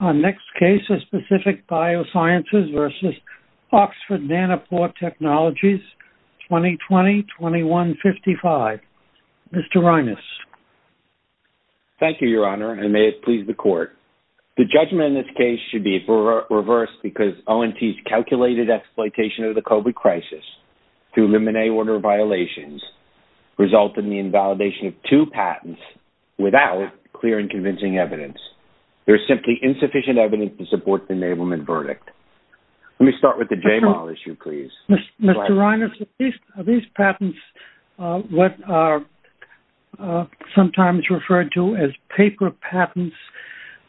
Our next case is Pacific Biosciences v. Oxford Nanopore Technologies, 2020-2155. Mr. Reines. Thank you, Your Honor, and may it please the Court. The judgment in this case should be reversed because ONT's calculated exploitation of the COVID crisis to eliminate order violations resulted in the invalidation of two patents without clear and sufficient evidence to support the enablement verdict. Let me start with the J-MAL issue, please. Mr. Reines, are these patents what are sometimes referred to as paper patents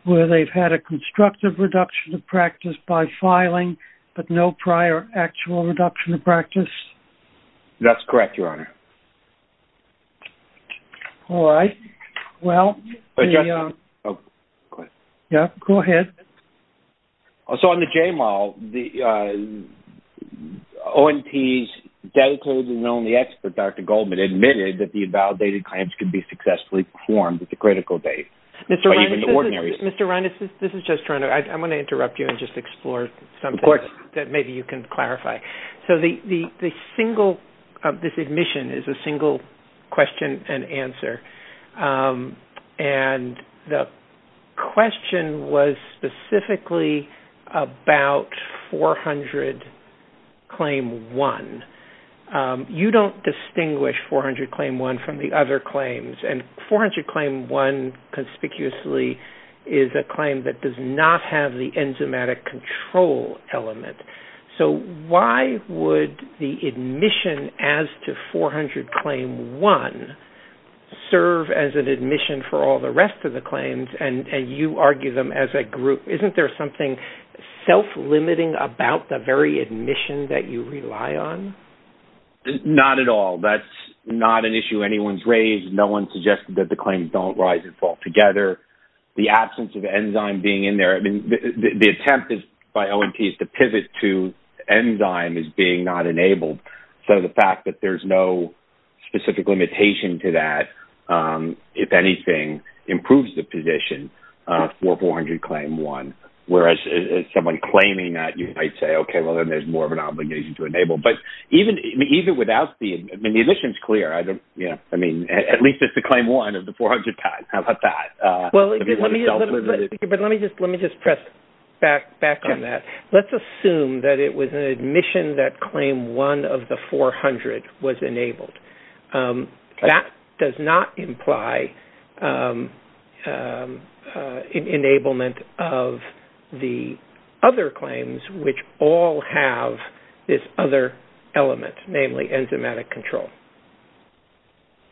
where they've had a constructive reduction of practice by filing but no prior actual reduction of practice? That's correct, Your Honor. All right. Go ahead. So, on the J-MAL, ONT's dedicated and only expert, Dr. Goldman, admitted that the invalidated claims could be successfully performed at the critical date. Mr. Reines, this is just trying to-I'm going to interrupt you and just explore that maybe you can clarify. So, this admission is a single question and answer, and the question was specifically about 400 Claim 1. You don't distinguish 400 Claim 1 from the other claims, and 400 Claim 1 conspicuously is a claim that does not have the enzymatic control element. So, why would the admission as to 400 Claim 1 serve as an admission for all the rest of the claims, and you argue them as a group? Isn't there something self-limiting about the very admission that you rely on? Not at all. That's not an issue anyone's raised. No one suggested that the claims don't rise and the attempt by ONT is to pivot to enzyme as being not enabled. So, the fact that there's no specific limitation to that, if anything, improves the position for 400 Claim 1, whereas someone claiming that, you might say, okay, well, then there's more of an obligation to enable. But even without the-I mean, the admission's clear. I mean, at least it's the back on that. Let's assume that it was an admission that Claim 1 of the 400 was enabled. That does not imply an enablement of the other claims, which all have this other element, namely enzymatic control.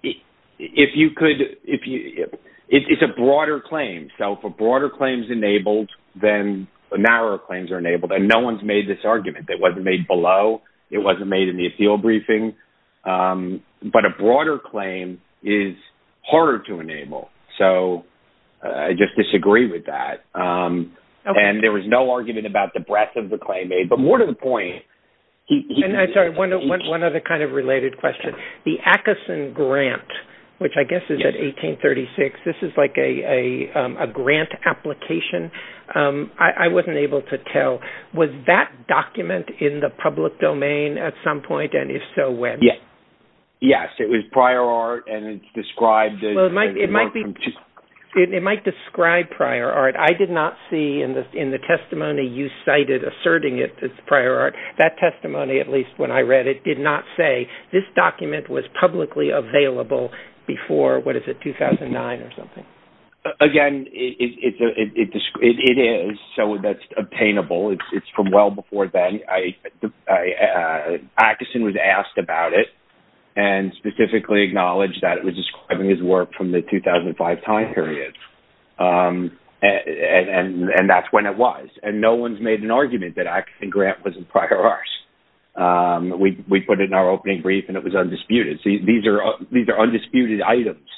If you could-it's a broader claim. So, if a broader claim is enabled then the narrower claims are enabled. And no one's made this argument. It wasn't made below. It wasn't made in the appeal briefing. But a broader claim is harder to enable. So, I just disagree with that. And there was no argument about the breadth of the claim made, but more to the point- I'm sorry, one other kind of related question. The Atkinson Grant, which I guess is at 1836. This is like a grant application. I wasn't able to tell. Was that document in the public domain at some point? And if so, when? Yes. Yes, it was prior art and it's described- It might describe prior art. I did not see in the testimony you cited asserting it as prior art. That testimony, at least when I read it, did not say this document was publicly available before, what is it, 2009 or something? Again, it is. So, that's obtainable. It's from well before then. Atkinson was asked about it and specifically acknowledged that it was describing his work from the 2005 time period. And that's when it was. And no one's made an argument that Atkinson Grant was in prior arts. We put it in our opening brief and it was undisputed items.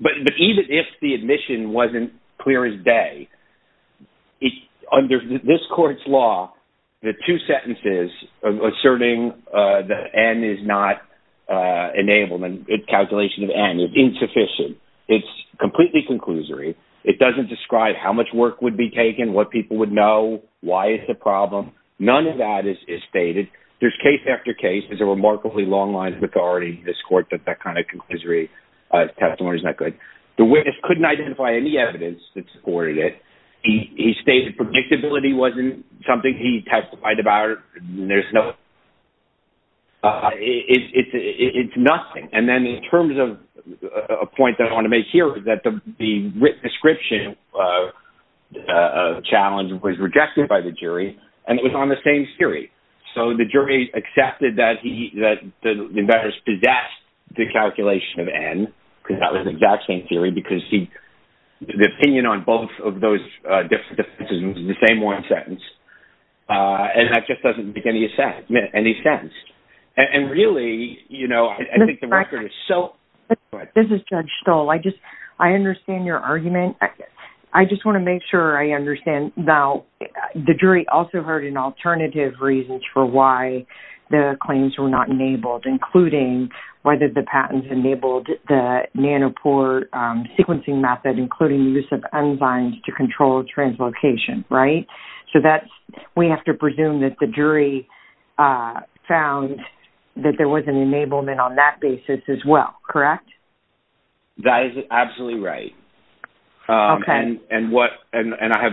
But even if the admission wasn't clear as day, under this court's law, the two sentences of asserting that N is not enabled in calculation of N is insufficient. It's completely conclusory. It doesn't describe how much work would be taken, what people would know, why is the problem. None of that is stated. There's case after case. There's a remarkably long line of authority in this court that that kind of conclusory testimony is not good. The witness couldn't identify any evidence that supported it. He stated predictability wasn't something he testified about. It's nothing. And then in terms of a point that I want to make here is that the written description of the challenge was rejected by the jury and it was on the same theory. So the jury accepted that he, that the investors possessed the calculation of N, because that was the exact same theory, because he, the opinion on both of those decisions is the same one sentence. And that just doesn't make any sense. And really, you know, I think the record is so. This is Judge Stoll. I just, I understand your argument. I just want to make sure I understand. Now, the jury also heard an alternative reasons for why the claims were not enabled, including whether the patents enabled the Nanopore sequencing method, including use of enzymes to control translocation, right? So that's, we have to presume that the jury found that there was an enablement on that basis as well, correct? That is absolutely right. And, and what, and I have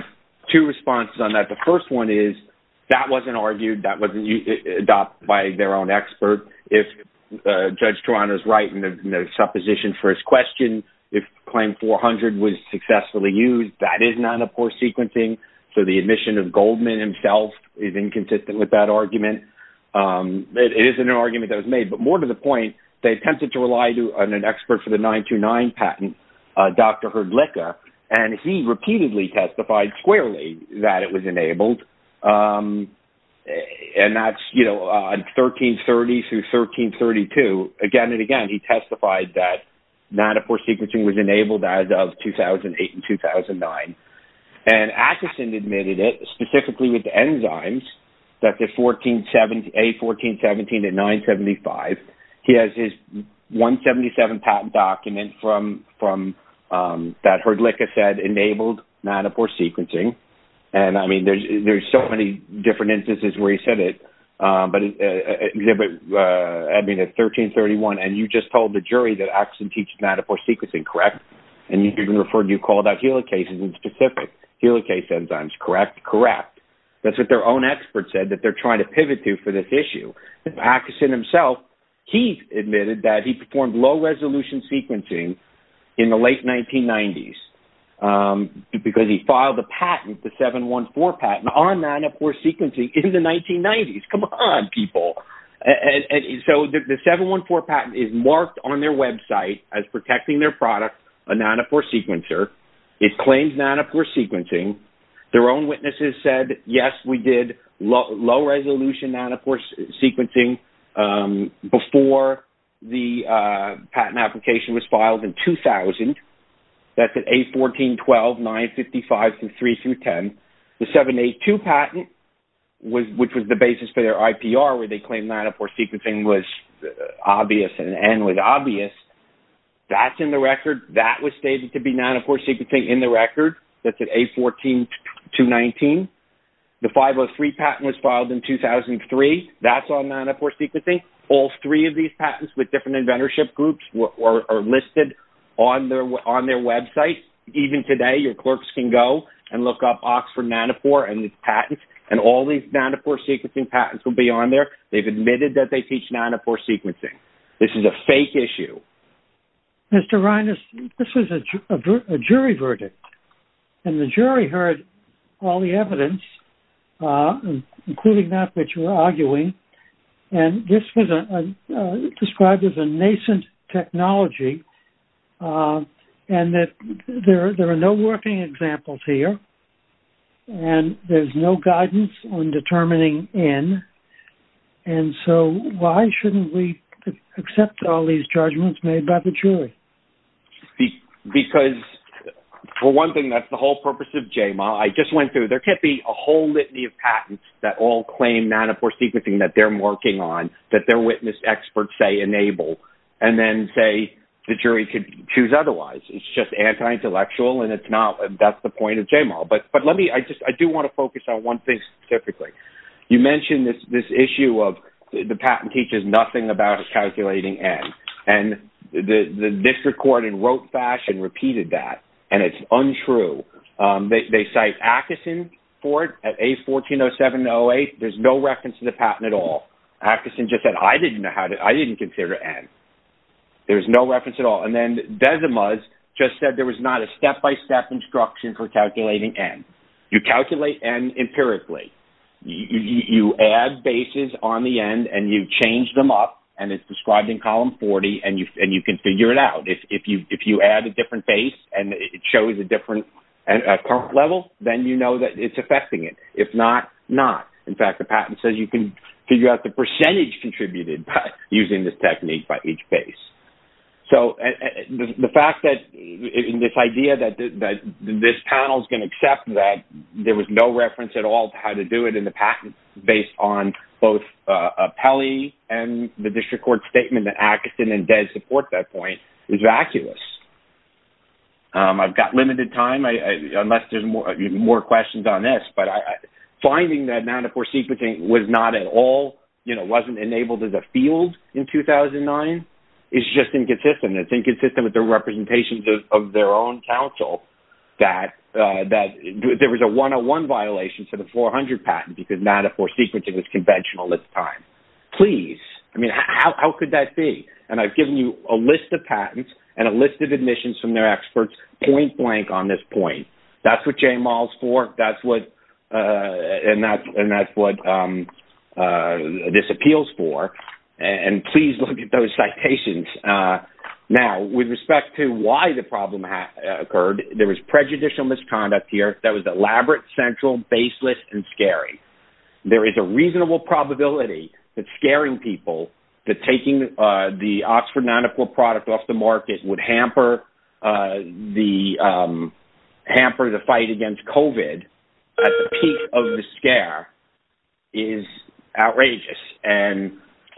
two responses on that. The first one is that wasn't argued, that wasn't adopted by their own expert. If Judge Toronto's right in the supposition for his question, if claim 400 was successfully used, that is Nanopore sequencing. So the admission of Goldman himself is inconsistent with that argument. It is an argument that was attempted to rely on an expert for the 929 patent, Dr. Herdlicka, and he repeatedly testified squarely that it was enabled. And that's, you know, 1330 through 1332, again and again, he testified that Nanopore sequencing was enabled as of 2008 and 2009. And Atkinson admitted it, specifically with enzymes, that the 1470, A1417 to 975, he has his 177 patent document from, from that Herdlicka said enabled Nanopore sequencing. And I mean, there's, there's so many different instances where he said it, but exhibit, I mean at 1331, and you just told the jury that Atkinson teaches Nanopore sequencing, correct? And you even referred, you called out helicases in specific, helicase enzymes, correct? Correct. That's what their own expert said that they're trying to pivot to for this issue. Atkinson himself, he admitted that he performed low resolution sequencing in the late 1990s because he filed a patent, the 714 patent on Nanopore sequencing in the 1990s. Come on, people. And so the 714 patent is marked on their website as protecting their product, a Nanopore sequencer. It claims Nanopore sequencing. Their own witnesses said, yes, we did low resolution Nanopore sequencing before the patent application was filed in 2000. That's at A1412, 955, 3 through 10. The 782 patent was, which was the basis for their IPR, where they claimed Nanopore sequencing was obvious and was obvious. That's in the record. That was stated to be Nanopore sequencing in the record. That's at A14219. The 503 patent was filed in 2003. That's on Nanopore sequencing. All three of these patents with different inventorship groups are listed on their website. Even today, your clerks can go and look up Oxford Nanopore and its patents, and all these Nanopore sequencing. This is a fake issue. Mr. Reines, this is a jury verdict, and the jury heard all the evidence, including that which you were arguing, and this was described as a nascent technology, and that there are no working examples here, and there's no guidance on determining N. So why shouldn't we accept all these judgments made by the jury? Because, for one thing, that's the whole purpose of JMA. I just went through, there can't be a whole litany of patents that all claim Nanopore sequencing that they're working on, that their witness experts say enable, and then say the jury could choose otherwise. It's just JMA. But I do want to focus on one thing specifically. You mentioned this issue of the patent teaches nothing about calculating N, and the district court in rote fashion repeated that, and it's untrue. They cite Atkinson for it at A140708. There's no reference to the patent at all. Atkinson just said, I didn't consider N. There's no reference at all. And then Dezimuz just said there was not a step-by-step instruction for calculating N. You calculate N empirically. You add bases on the end, and you change them up, and it's described in column 40, and you can figure it out. If you add a different base, and it shows a different level, then you know that it's affecting it. If not, not. In fact, the patent says you can figure out the percentage contributed by using this technique by each base. So the fact that this idea that this panel is going to accept that there was no reference at all to how to do it in the patent based on both Pelley and the district court statement that Atkinson and Dez support that point is vacuous. I've got limited time, unless there's more questions on this, but finding that Manafort sequencing was not at all, you know, wasn't enabled as a field in 2009 is just inconsistent. It's inconsistent with the representations of their own counsel that there was a 101 violation for the 400 patent because Manafort sequencing was conventional at the time. Please. I mean, how could that be? And I've given you a list of patents and a list of admissions from their experts point blank on this point. That's what And please look at those citations. Now, with respect to why the problem occurred, there was prejudicial misconduct here that was elaborate, central, baseless, and scary. There is a reasonable probability that scaring people that taking the Oxford Manafort product off the market would hamper the fight against COVID at the peak of the scare is outrageous. And,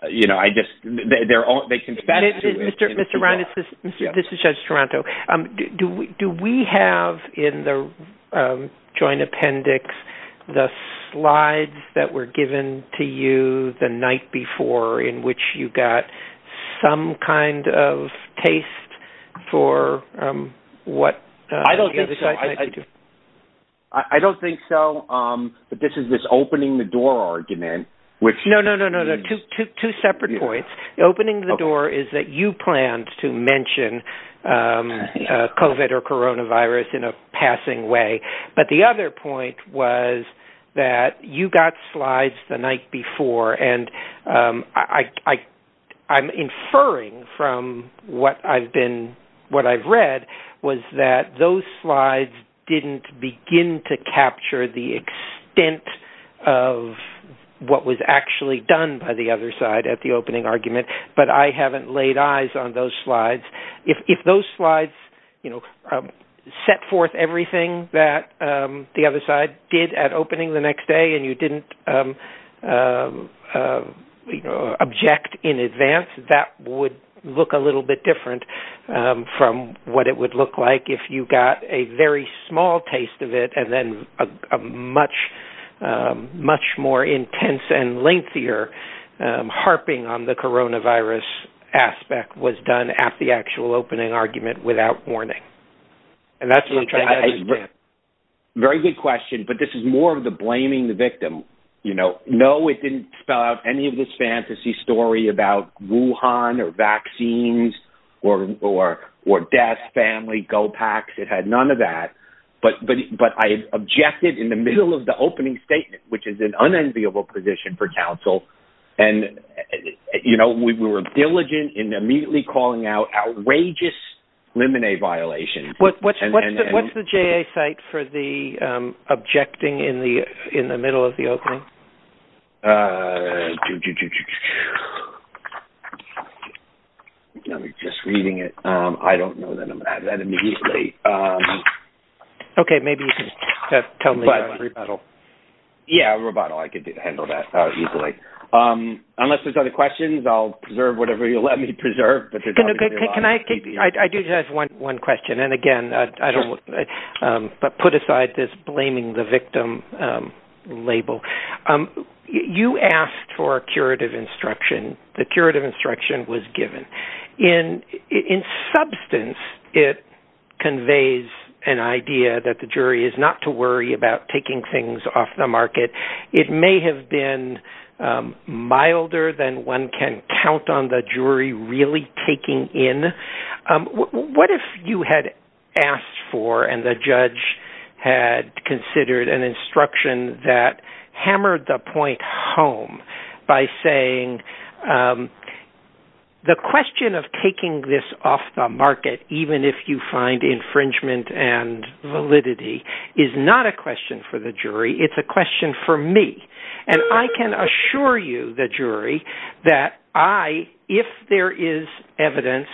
you know, I just, they're all, they confess to it. Mr. Ron, this is Judge Toronto. Do we have in the joint appendix, the slides that were given to you the night before, in which you got some kind of taste for what? I don't think so. But this is this opening the door argument, which No, no, no, no, no. Two separate points. Opening the door is that you planned to mention COVID or coronavirus in a passing way. But the other point was that you got slides the night before and I'm inferring from what I've been, what I've read was that those slides didn't begin to capture the extent of what was actually done by the other side at the opening argument. But I haven't laid eyes on those slides. If those slides, you know, set forth everything that the other side did at opening the next day, and you didn't object in advance, that would look a little bit different from what it would look like if you got a very small taste of it. And then a much, much more intense and lengthier harping on the coronavirus aspect was done at the actual opening argument without warning. Very good question. But this is more of the blaming the victim. You know, no, it didn't spell out any of this fantasy story about Wuhan or vaccines, or death, family, go packs. It had none of that. But I objected in the middle of the opening statement, which is an unenviable position for counsel. And, you know, we were diligent in immediately calling out outrageous lemonade violations. What's the JA site for the objecting in the way? Okay, maybe you can tell me. Yeah, rebuttal. I could handle that easily. Unless there's other questions, I'll preserve whatever you let me preserve. I do have one question. And again, I don't want to put aside this blaming the victim label. You asked for a curative instruction. The curative instruction was given. In substance, it conveys an idea that the jury is not to worry about taking things off the market. It may have been milder than one can count on the jury really taking in. What if you had asked for and the judge had considered an instruction that hammered the point home by saying, um, the question of taking this off the market, even if you find infringement and validity, is not a question for the jury. It's a question for me. And I can assure you, the jury, that I, if there is evidence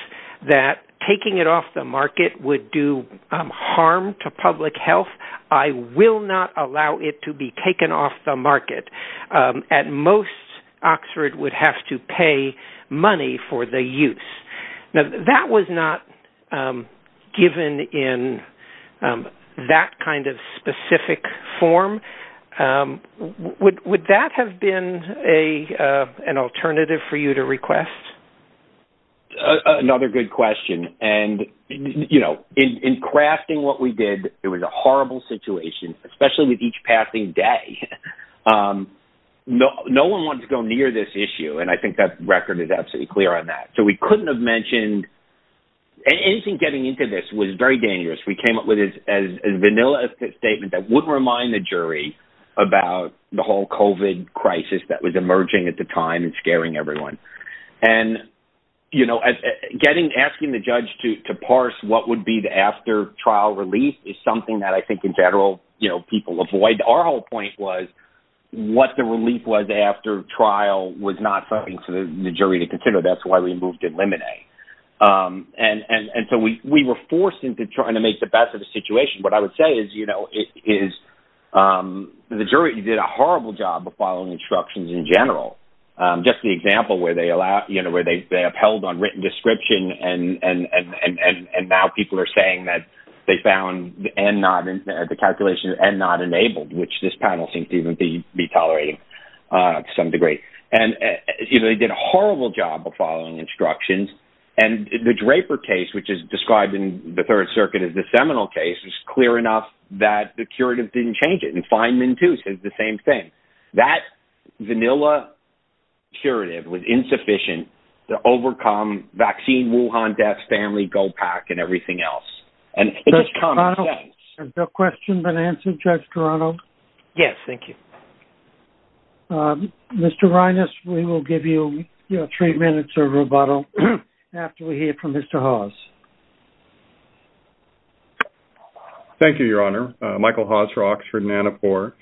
that taking it off the market would do harm to public health, I will not allow it to be taken off the market. At most, Oxford would have to pay money for the use. Now, that was not given in that kind of specific form. Would that have been an alternative for you to request? Another good question. And, you know, in crafting what we did, it was a horrible situation, especially with each passing day. No, no one wants to go near this issue. And I think that record is absolutely clear on that. So we couldn't have mentioned anything getting into this was very dangerous. We came up with it as a vanilla statement that would remind the jury about the whole COVID crisis that was emerging at the time and scaring everyone. And, you know, getting, asking the judge to parse what would be the after trial release is something that I think in general, you know, people avoid. Our whole point was what the relief was after trial was not something for the jury to consider. That's why we moved to eliminate. And so we were forced into trying to make the best of the situation. What I would say is, you know, is the jury did a horrible job of following instructions in general. Just the example where they allowed, you know, where they upheld on written description and now people are saying that they found and not the calculation and not enabled, which this panel seems to even be tolerating to some degree. And, you know, they did a horrible job of following instructions. And the Draper case, which is described in the Third Circuit as the seminal case, is clear enough that the curative didn't change it. And Feynman too says the same thing. That vanilla curative was insufficient to overcome vaccine, Wuhan deaths, family, go pack and everything else. And it just comes. Is there a question been answered, Judge Toronto? Yes. Thank you. Mr. Rhinus, we will give you three minutes of rebuttal after we hear from Mr. Hawes. Thank you, Your Honor. Michael Hawes-Rox for Nanopore.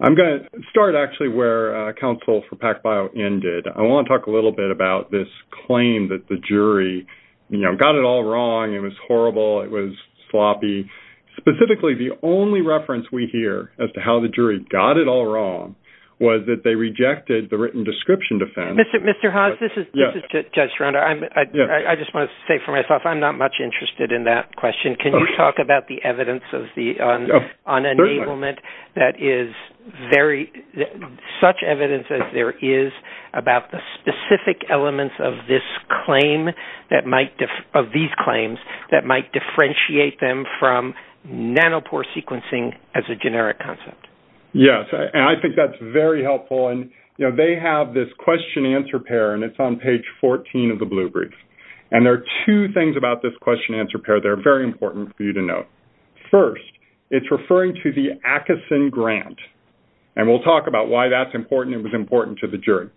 I'm going to start actually where counsel for PacBio ended. I want to talk a little bit about this claim that the jury, you know, got it all wrong. It was horrible. It was sloppy. Specifically, the only reference we hear as to how the jury got it all wrong was that they rejected the written description defense. Mr. Hawes, this is Judge Toronto. I just want to say for myself, I'm not much interested in that question. Can you talk about the evidence of the unenablement that is very, such evidence as there is about the specific elements of this claim that might-of these claims-that might differentiate them from nanopore sequencing as a generic concept? Yes. And I think that's very helpful. And, you know, they have this question-answer pair, and it's on page 14 of the blue brief. And there are two things about this question-answer pair that are very important for you to know. First, it's referring to the Atkinson grant. And we'll talk about why that's important to the jury.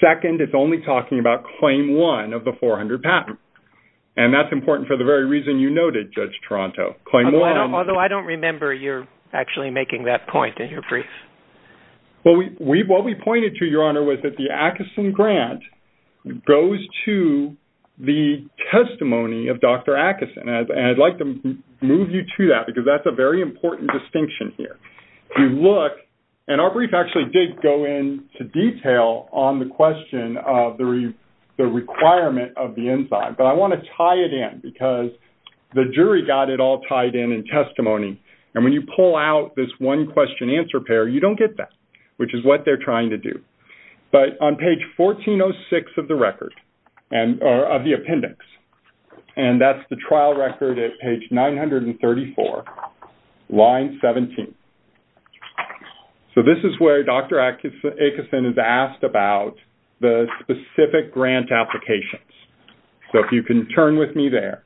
Second, it's only talking about claim one of the 400 patent. And that's important for the very reason you noted, Judge Toronto. Although I don't remember you're actually making that point in your brief. Well, what we pointed to, Your Honor, was that the Atkinson grant goes to the testimony of Dr. Atkinson. And I'd like to move you to that because that's a very important distinction here. If you look-and our brief actually did go into detail on the question of the requirement of the enzyme. But I want to tie it in because the jury got it all tied in in testimony. And when you pull out this one-question-answer pair, you don't get that, which is what they're trying to do. But on page 1406 of the record-or of the appendix, and that's the trial record at page 934, line 17. So this is where Dr. Atkinson is asked about the specific grant applications. So if you can turn with me there.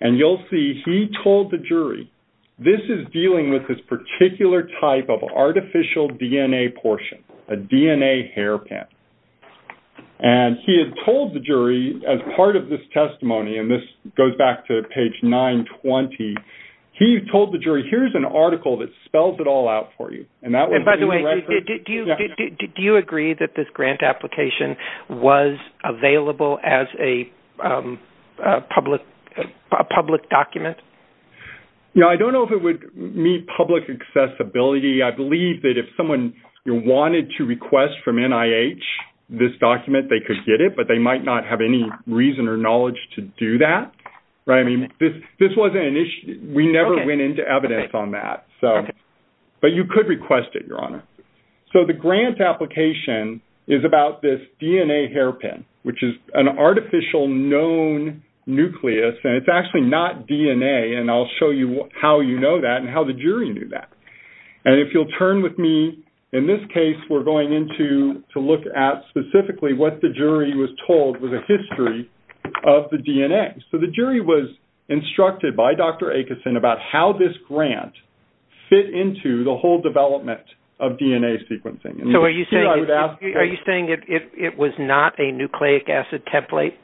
And you'll see he told the jury, this is dealing with this particular type of artificial DNA portion, a DNA hairpin. And he had told the jury, as part of this testimony-and this goes back to page 920-he told the jury, here's an article that spells it all out for you. And that was- And by the way, do you agree that this grant application was available as a public document? I don't know if it would meet public accessibility. I believe that if someone wanted to request from NIH this document, they could get it, but they might not have any reason or knowledge to do that. I mean, this wasn't an issue. We never went into evidence on that. But you could request it, Your Honor. So the grant application is about this DNA hairpin, which is an artificial known nucleus. And it's actually not DNA. And I'll show you how you know that and how the jury knew that. And if you'll turn with me, in this case, we're going into to look at specifically what the jury was told was a history of the DNA. So the jury was instructed by Dr. Acheson about how this grant fit into the whole development of DNA sequencing. So are you saying it was not a nucleic acid template?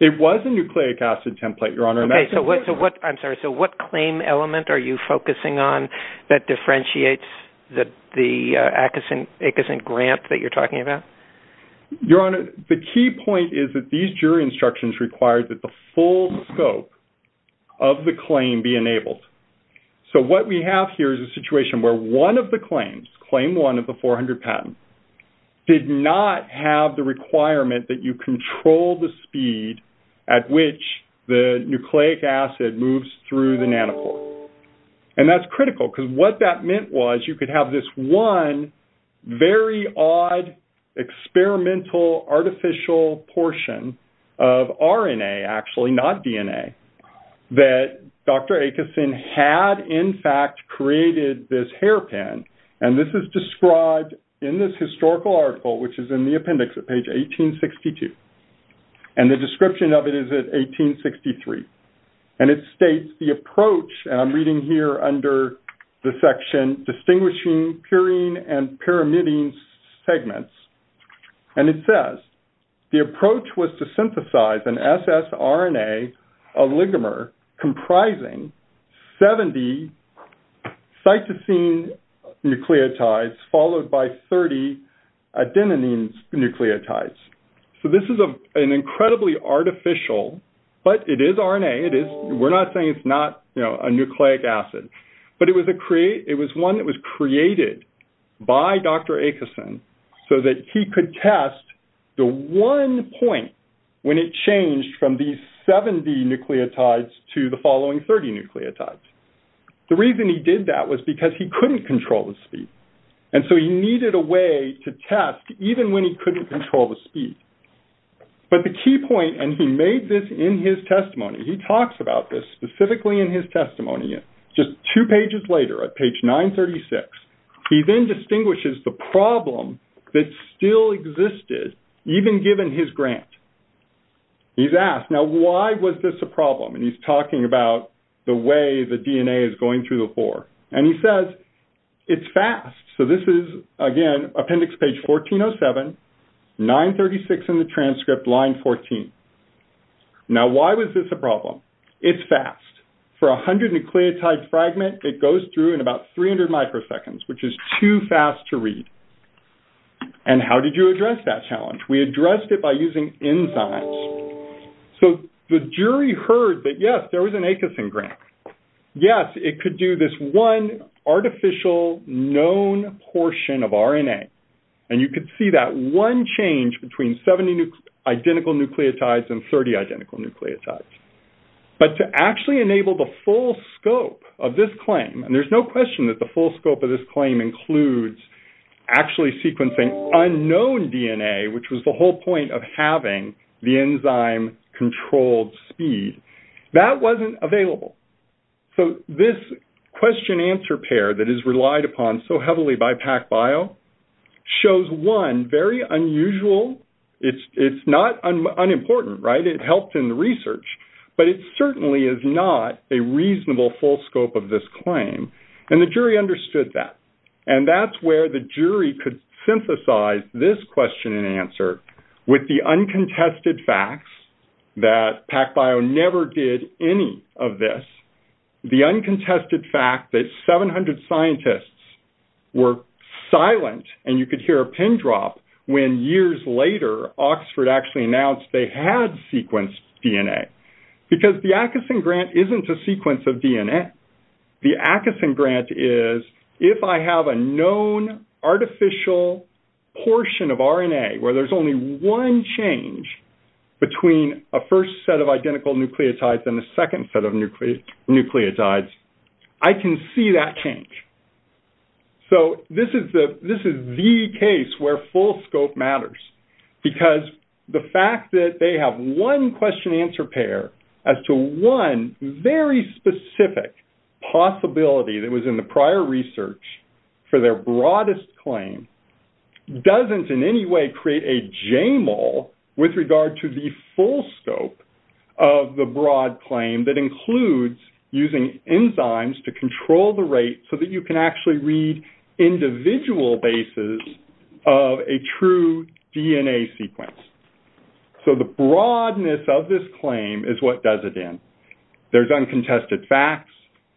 It was a nucleic acid template, Your Honor. I'm sorry. So what claim element are you focusing on that differentiates the Acheson grant that you're talking about? Your Honor, the key point is that these jury instructions required that the full scope of the claim be enabled. So what we have here is a situation where one of the claims, claim one of the 400 patents, did not have the requirement that you control the speed at which the nucleic acid moves through the nanopore. And that's critical because what that meant was you could have this one very odd experimental artificial portion of RNA, actually not DNA, that Dr. Acheson had, in fact, created this hairpin. And this is described in this historical article, which is in the appendix at page 1862. And the description of it is at 1863. And it states the approach, and I'm reading here under the section, distinguishing purine and pyrimidine segments. And it says the approach was to synthesize an SS RNA oligomer comprising 70 cytosine nucleotides followed by 30 adenine nucleotides. So this is an incredibly artificial, but it is RNA. We're not saying it's not a nucleic acid. But it was one that was created by Dr. Acheson so that he could test the one point when it changed from these 70 nucleotides to the following 30 nucleotides. The reason he did that was because he couldn't control the speed. And so he needed a way to test even when he couldn't control the speed. But the key point, and he made this in his testimony, he talks about this specifically in his testimony. Just two pages later, at page 936, he then distinguishes the problem that still existed, even given his grant. He's asked, now why was this a problem? And he's talking about the way the DNA is going through the pore. And he says, it's fast. So this is, again, appendix page 1407, 936 in the transcript, line 14. Now why was this a problem? It's fast. For a 100 nucleotide fragment, it goes through in about 300 microseconds, which is too fast to read. And how did you address that challenge? We addressed it by using enzymes. So the jury heard that, yes, there was an Acheson grant. Yes, it could do this one artificial, known portion of RNA. And you could see that one change between 70 identical nucleotides and 30 identical nucleotides. But to actually enable the full scope of this claim, and there's no question that the full scope of this claim includes actually sequencing unknown DNA, which was the whole point of having the enzyme-controlled speed, that wasn't available. So this question-answer pair that is relied upon so heavily by PacBio shows, one, very unusual. It's not unimportant, right? It helped in the research. But it certainly is not a reasonable full scope of this claim. And the jury understood that. And that's where the jury could synthesize this question-and-answer with the uncontested facts that PacBio never did any of this. The uncontested fact that 700 scientists were silent, and you could hear a pin drop when years later, Oxford actually announced they had sequenced DNA. Because the Acheson grant isn't a sequence of DNA. The Acheson grant is, if I have a known artificial portion of RNA where there's only one change between a first set of identical nucleotides and a second set of nucleotides, I can see that change. So this is the case where full scope matters. Because the fact that they have one question-answer pair as to one very specific possibility that was in the prior research for their broadest claim doesn't in any way create a JMOL with regard to the full scope of the broad claim that includes using enzymes to control the rate so that you can actually read individual bases of a true DNA sequence. So the broadness of this claim is what does it in. There's uncontested facts.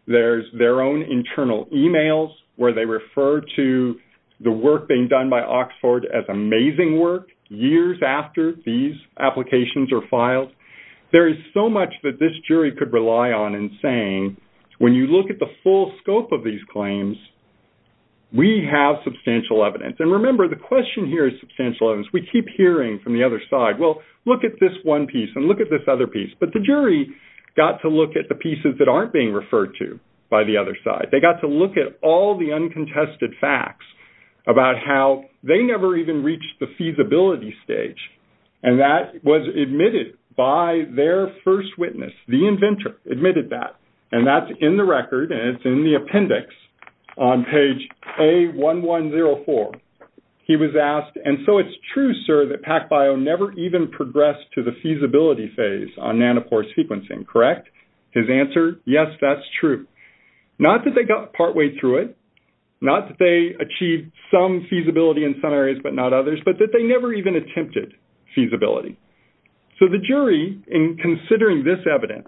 There's their own internal emails where they refer to the work being done by Oxford as amazing work years after these applications are filed. There is so much that this jury could rely on in saying, when you look at the full scope of these claims, we have substantial evidence. And remember, the question here is substantial evidence. We keep hearing from the other side, well, look at this one piece and look at this other piece. But the jury got to look at the pieces that aren't being referred to by the other side. They got to look at all the uncontested facts about how they never even reached the feasibility stage. And that was admitted by their first witness. The inventor admitted that. And that's in the record and it's in the appendix on page A1104. He was asked, and so it's true, sir, that PacBio never even progressed to the feasibility phase on nanopore sequencing, correct? His answer, yes, that's true. Not that they got partway through it, not that they achieved some feasibility in some areas but not others, but that they never even attempted feasibility. So the jury, in considering this evidence,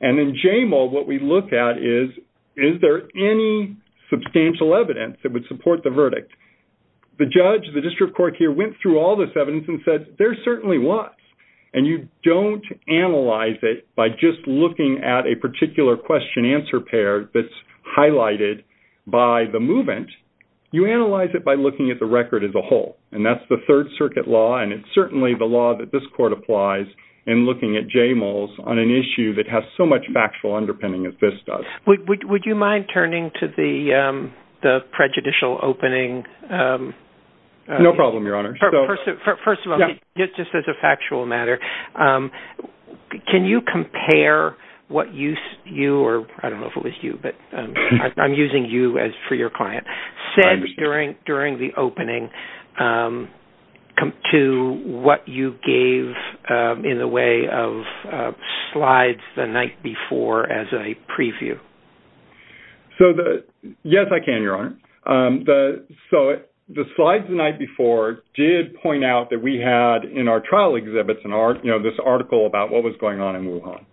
and in JMOL, what we look at is, is there any substantial evidence that would support the verdict? The judge, the district court here, went through all this evidence and said, there certainly was. And you don't analyze it by just looking at a particular question-answer pair that's highlighted by the movement. You analyze it by looking at the record as a whole. And that's the Third Circuit law and it's certainly the law that this court applies in looking at JMOLs on an issue that has so much factual underpinning as this does. Would you mind turning to the prejudicial opening? No problem, Your Honor. First of all, just as a factual matter, can you compare what you, or I don't know if it was you, but I'm using you as for your client, said during the opening to what you gave in the way of slides the night before as a preview? So, yes, I can, Your Honor. So the slides the night before did point out that we had, in our trial exhibits, this article about what was going on in Wuhan.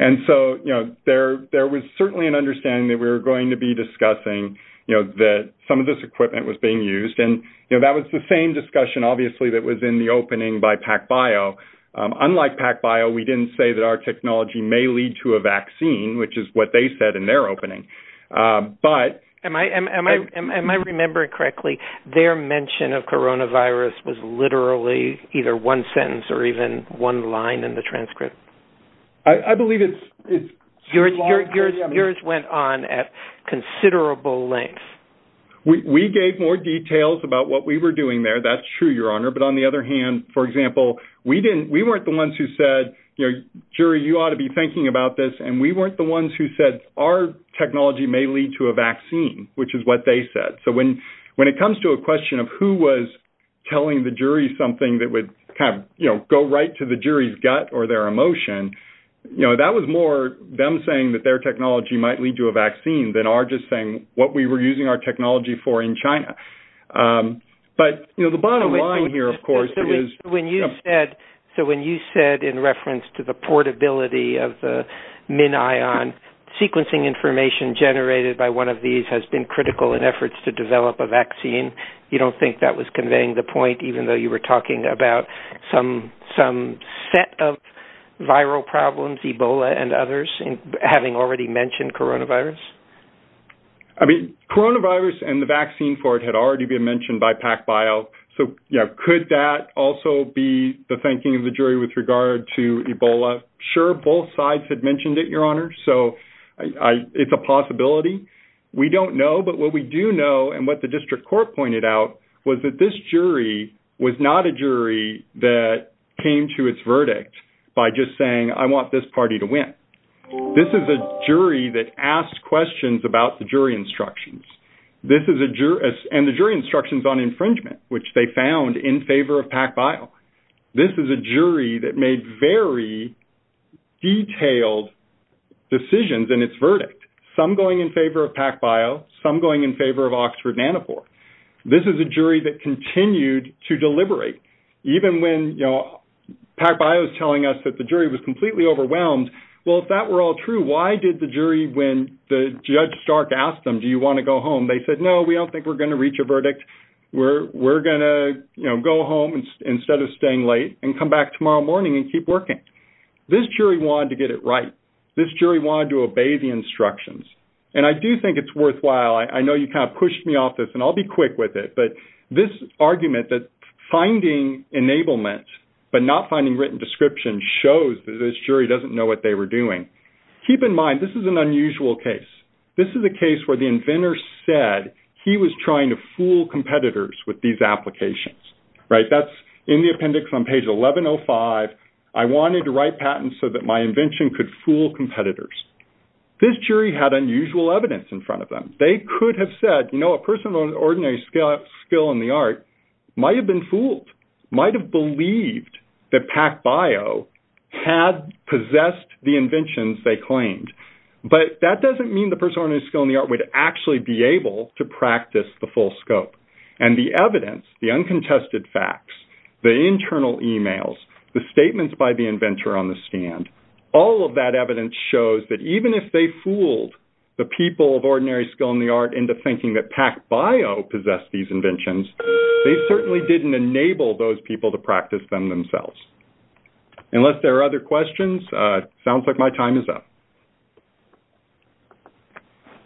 And so there was certainly an understanding that we were going to be discussing that some of this equipment was being used. And that was the same discussion, obviously, that was in the opening by PacBio. Unlike PacBio, we didn't say that our technology may lead to a vaccine, which is what they said in their opening. But- Am I remembering correctly, their mention of coronavirus was literally either one sentence or even one line in the transcript? I believe it's- Yours went on at considerable length. We gave more details about what we were doing there. That's true, Your Honor. But on the other hand, for example, we weren't the ones who said, you know, jury, you ought to be thinking about this. And we weren't the ones who said our technology may lead to a vaccine, which is what they said. So when it comes to a question of who was telling the jury something that would kind of, you know, go right to the jury's gut or their emotion, you know, that was more them saying that their technology might lead to a vaccine than our just saying what we were using our technology for in China. But, you know, the bottom line here, of course, is- So when you said in reference to the portability of the MinION, sequencing information generated by one of these has been critical in efforts to develop a vaccine. You don't think that was conveying the point, even though you were talking about some set of viral problems, Ebola and others, having already mentioned coronavirus? I mean, coronavirus and the vaccine for it had already been mentioned by PacBio. So, you know, could that also be the thinking of the jury with regard to Ebola? Sure. Both sides had mentioned it, Your Honor. So it's a possibility. We don't know. But what we do know and what the district court pointed out was that this jury was not a jury that came to its verdict by just saying, I want this party to win. This is a jury that asked questions about the jury instructions. This is a jury- And the jury instructions on infringement, which they found in favor of PacBio. This is a jury that made very detailed decisions in its verdict, some going in favor of PacBio, some going in favor of Oxford-Nanopore. This is a jury that continued to deliberate, even when, you know, PacBio is telling us that the jury was completely overwhelmed. Well, if that were all true, why did the jury, when the Judge Stark asked them, do you want to go home? They said, no, we don't think we're going to reach a verdict. We're going to go home instead of staying late and come back tomorrow morning and keep working. This jury wanted to get it right. This jury wanted to obey the instructions. And I do think it's worthwhile. I know you kind of pushed me off this and I'll be quick with it, but this argument that finding enablement, but not finding written description shows that this jury doesn't know what they were doing. Keep in mind, this is an unusual case. This is a case where the inventor said he was trying to fool competitors with these applications, right? That's the appendix on page 1105. I wanted to write patents so that my invention could fool competitors. This jury had unusual evidence in front of them. They could have said, you know, a person of ordinary skill in the art might have been fooled, might have believed that PacBio had possessed the inventions they claimed. But that doesn't mean the person of ordinary skill in the art would actually be able to practice the full scope. And the evidence, the uncontested facts, the internal emails, the statements by the inventor on the stand, all of that evidence shows that even if they fooled the people of ordinary skill in the art into thinking that PacBio possessed these inventions, they certainly didn't enable those people to practice them themselves. Unless there are other questions, it sounds like my time is up.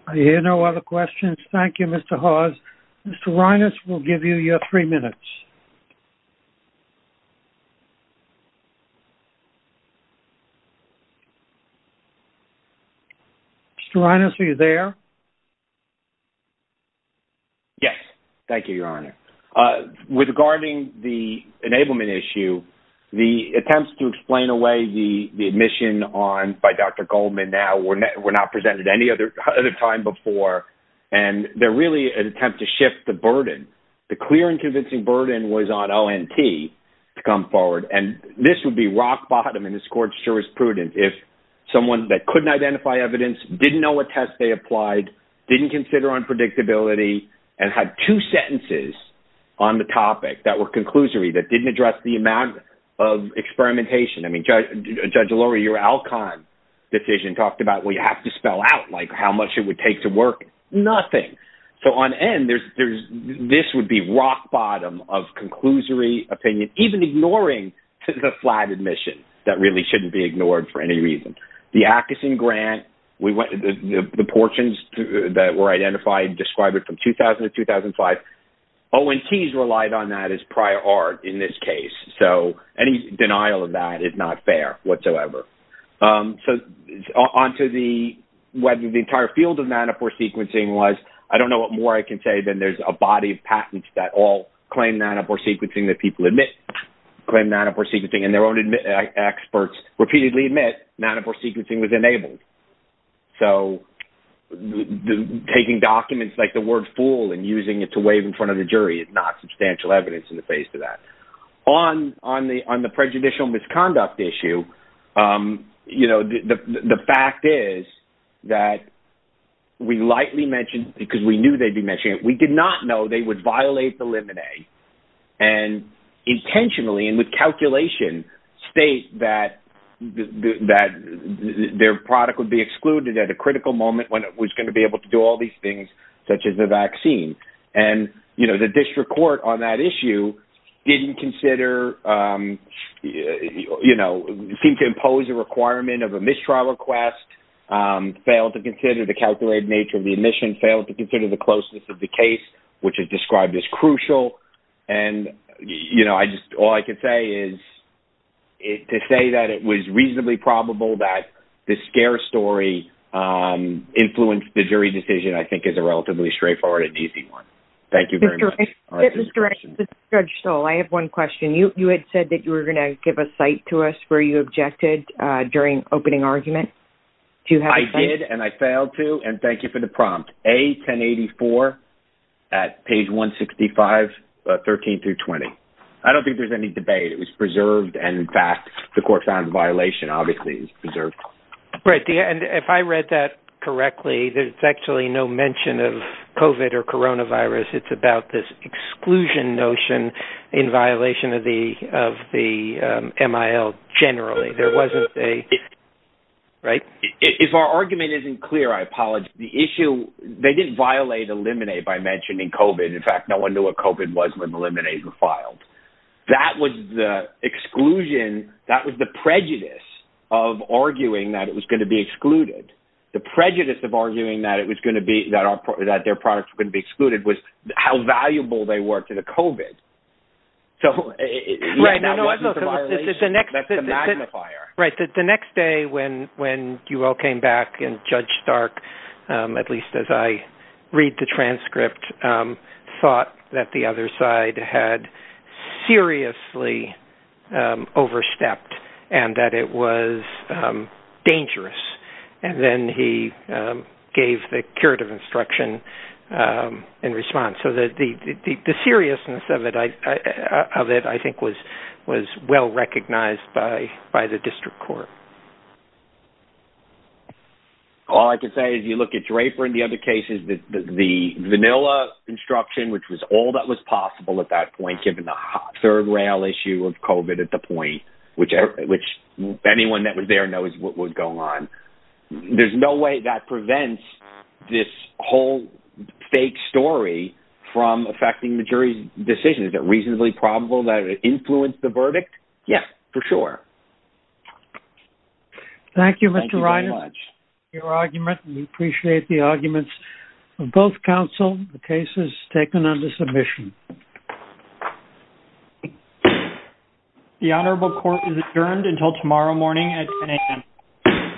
I hear no other questions. Thank you, Mr. Hawes. Mr. Reines will give you your three minutes. Mr. Reines, are you there? Yes. Thank you, Your Honor. Regarding the enablement issue, the attempts to explain the admission by Dr. Goldman now were not presented any other time before. And they're really an attempt to shift the burden. The clear and convincing burden was on ONT to come forward. And this would be rock bottom in this court's jurisprudence if someone that couldn't identify evidence, didn't know what test they applied, didn't consider unpredictability, and had two sentences on the topic that were conclusory that didn't address the amount of experimentation. I think Judge Lurie, your Alcon decision talked about we have to spell out how much it would take to work. Nothing. So on end, this would be rock bottom of conclusory opinion, even ignoring the flat admission. That really shouldn't be ignored for any reason. The Ackeson Grant, we went to the portions that were identified, described it from 2000 to 2005. ONTs relied on that as prior art in this case. So any denial of that is not fair whatsoever. So onto the entire field of Nanopore sequencing was, I don't know what more I can say than there's a body of patents that all claim Nanopore sequencing that people admit, claim Nanopore sequencing and their own experts repeatedly admit Nanopore sequencing was enabled. So taking documents like the word fool and using it to wave in front of the jury is not substantial evidence in the face of that. On the prejudicial misconduct issue, you know, the fact is that we lightly mentioned, because we knew they'd be mentioning it, we did not know they would violate the limine and intentionally and with calculation state that their product would be excluded at a critical moment when it was going to be able to do all these things, such as the vaccine. And, you know, the district court on that issue didn't consider, you know, seemed to impose a requirement of a mistrial request, failed to consider the calculated nature of the admission, failed to consider the closeness of the case, which is described as crucial. And, you know, I just, all I can say is to say that it was reasonably probable that the scare story influenced the jury decision, I think, is a relatively straightforward and easy one. Thank you very much. Judge Stoll, I have one question. You had said that you were going to give a site to us where you objected during opening argument. I did, and I failed to, and thank you for the prompt. A1084 at page 165, 13 through 20. I don't think there's any debate. It was preserved. And, in fact, the court found the violation obviously is preserved. Right. And if I read that correctly, there's actually no mention of COVID or coronavirus. It's about this exclusion notion in violation of the MIL generally. There wasn't a, right? If our argument isn't clear, I apologize. The issue, they didn't violate eliminate by mentioning COVID. In fact, no one knew what COVID was when eliminate was filed. That was the exclusion, that was the prejudice of arguing that it was going to be excluded. The prejudice of arguing that it was going to be, that their products couldn't be excluded was how valuable they were to the COVID. So it wasn't a violation. That's the magnifier. Right. The next day when you all back and Judge Stark, at least as I read the transcript, thought that the other side had seriously overstepped and that it was dangerous. And then he gave the curative instruction in response. So the seriousness of it, I think, was well recognized by the district court. All I can say is you look at Draper and the other cases, the vanilla instruction, which was all that was possible at that point, given the third rail issue of COVID at the point, which anyone that was there knows what was going on. There's no way that prevents this whole fake story from affecting the jury's decision. Is it reasonably probable that it influenced the verdict? Yes, for sure. Thank you, Mr. Ryder. Your argument, we appreciate the arguments of both counsel. The case is taken under submission. The honorable court is adjourned until tomorrow morning at 10 a.m.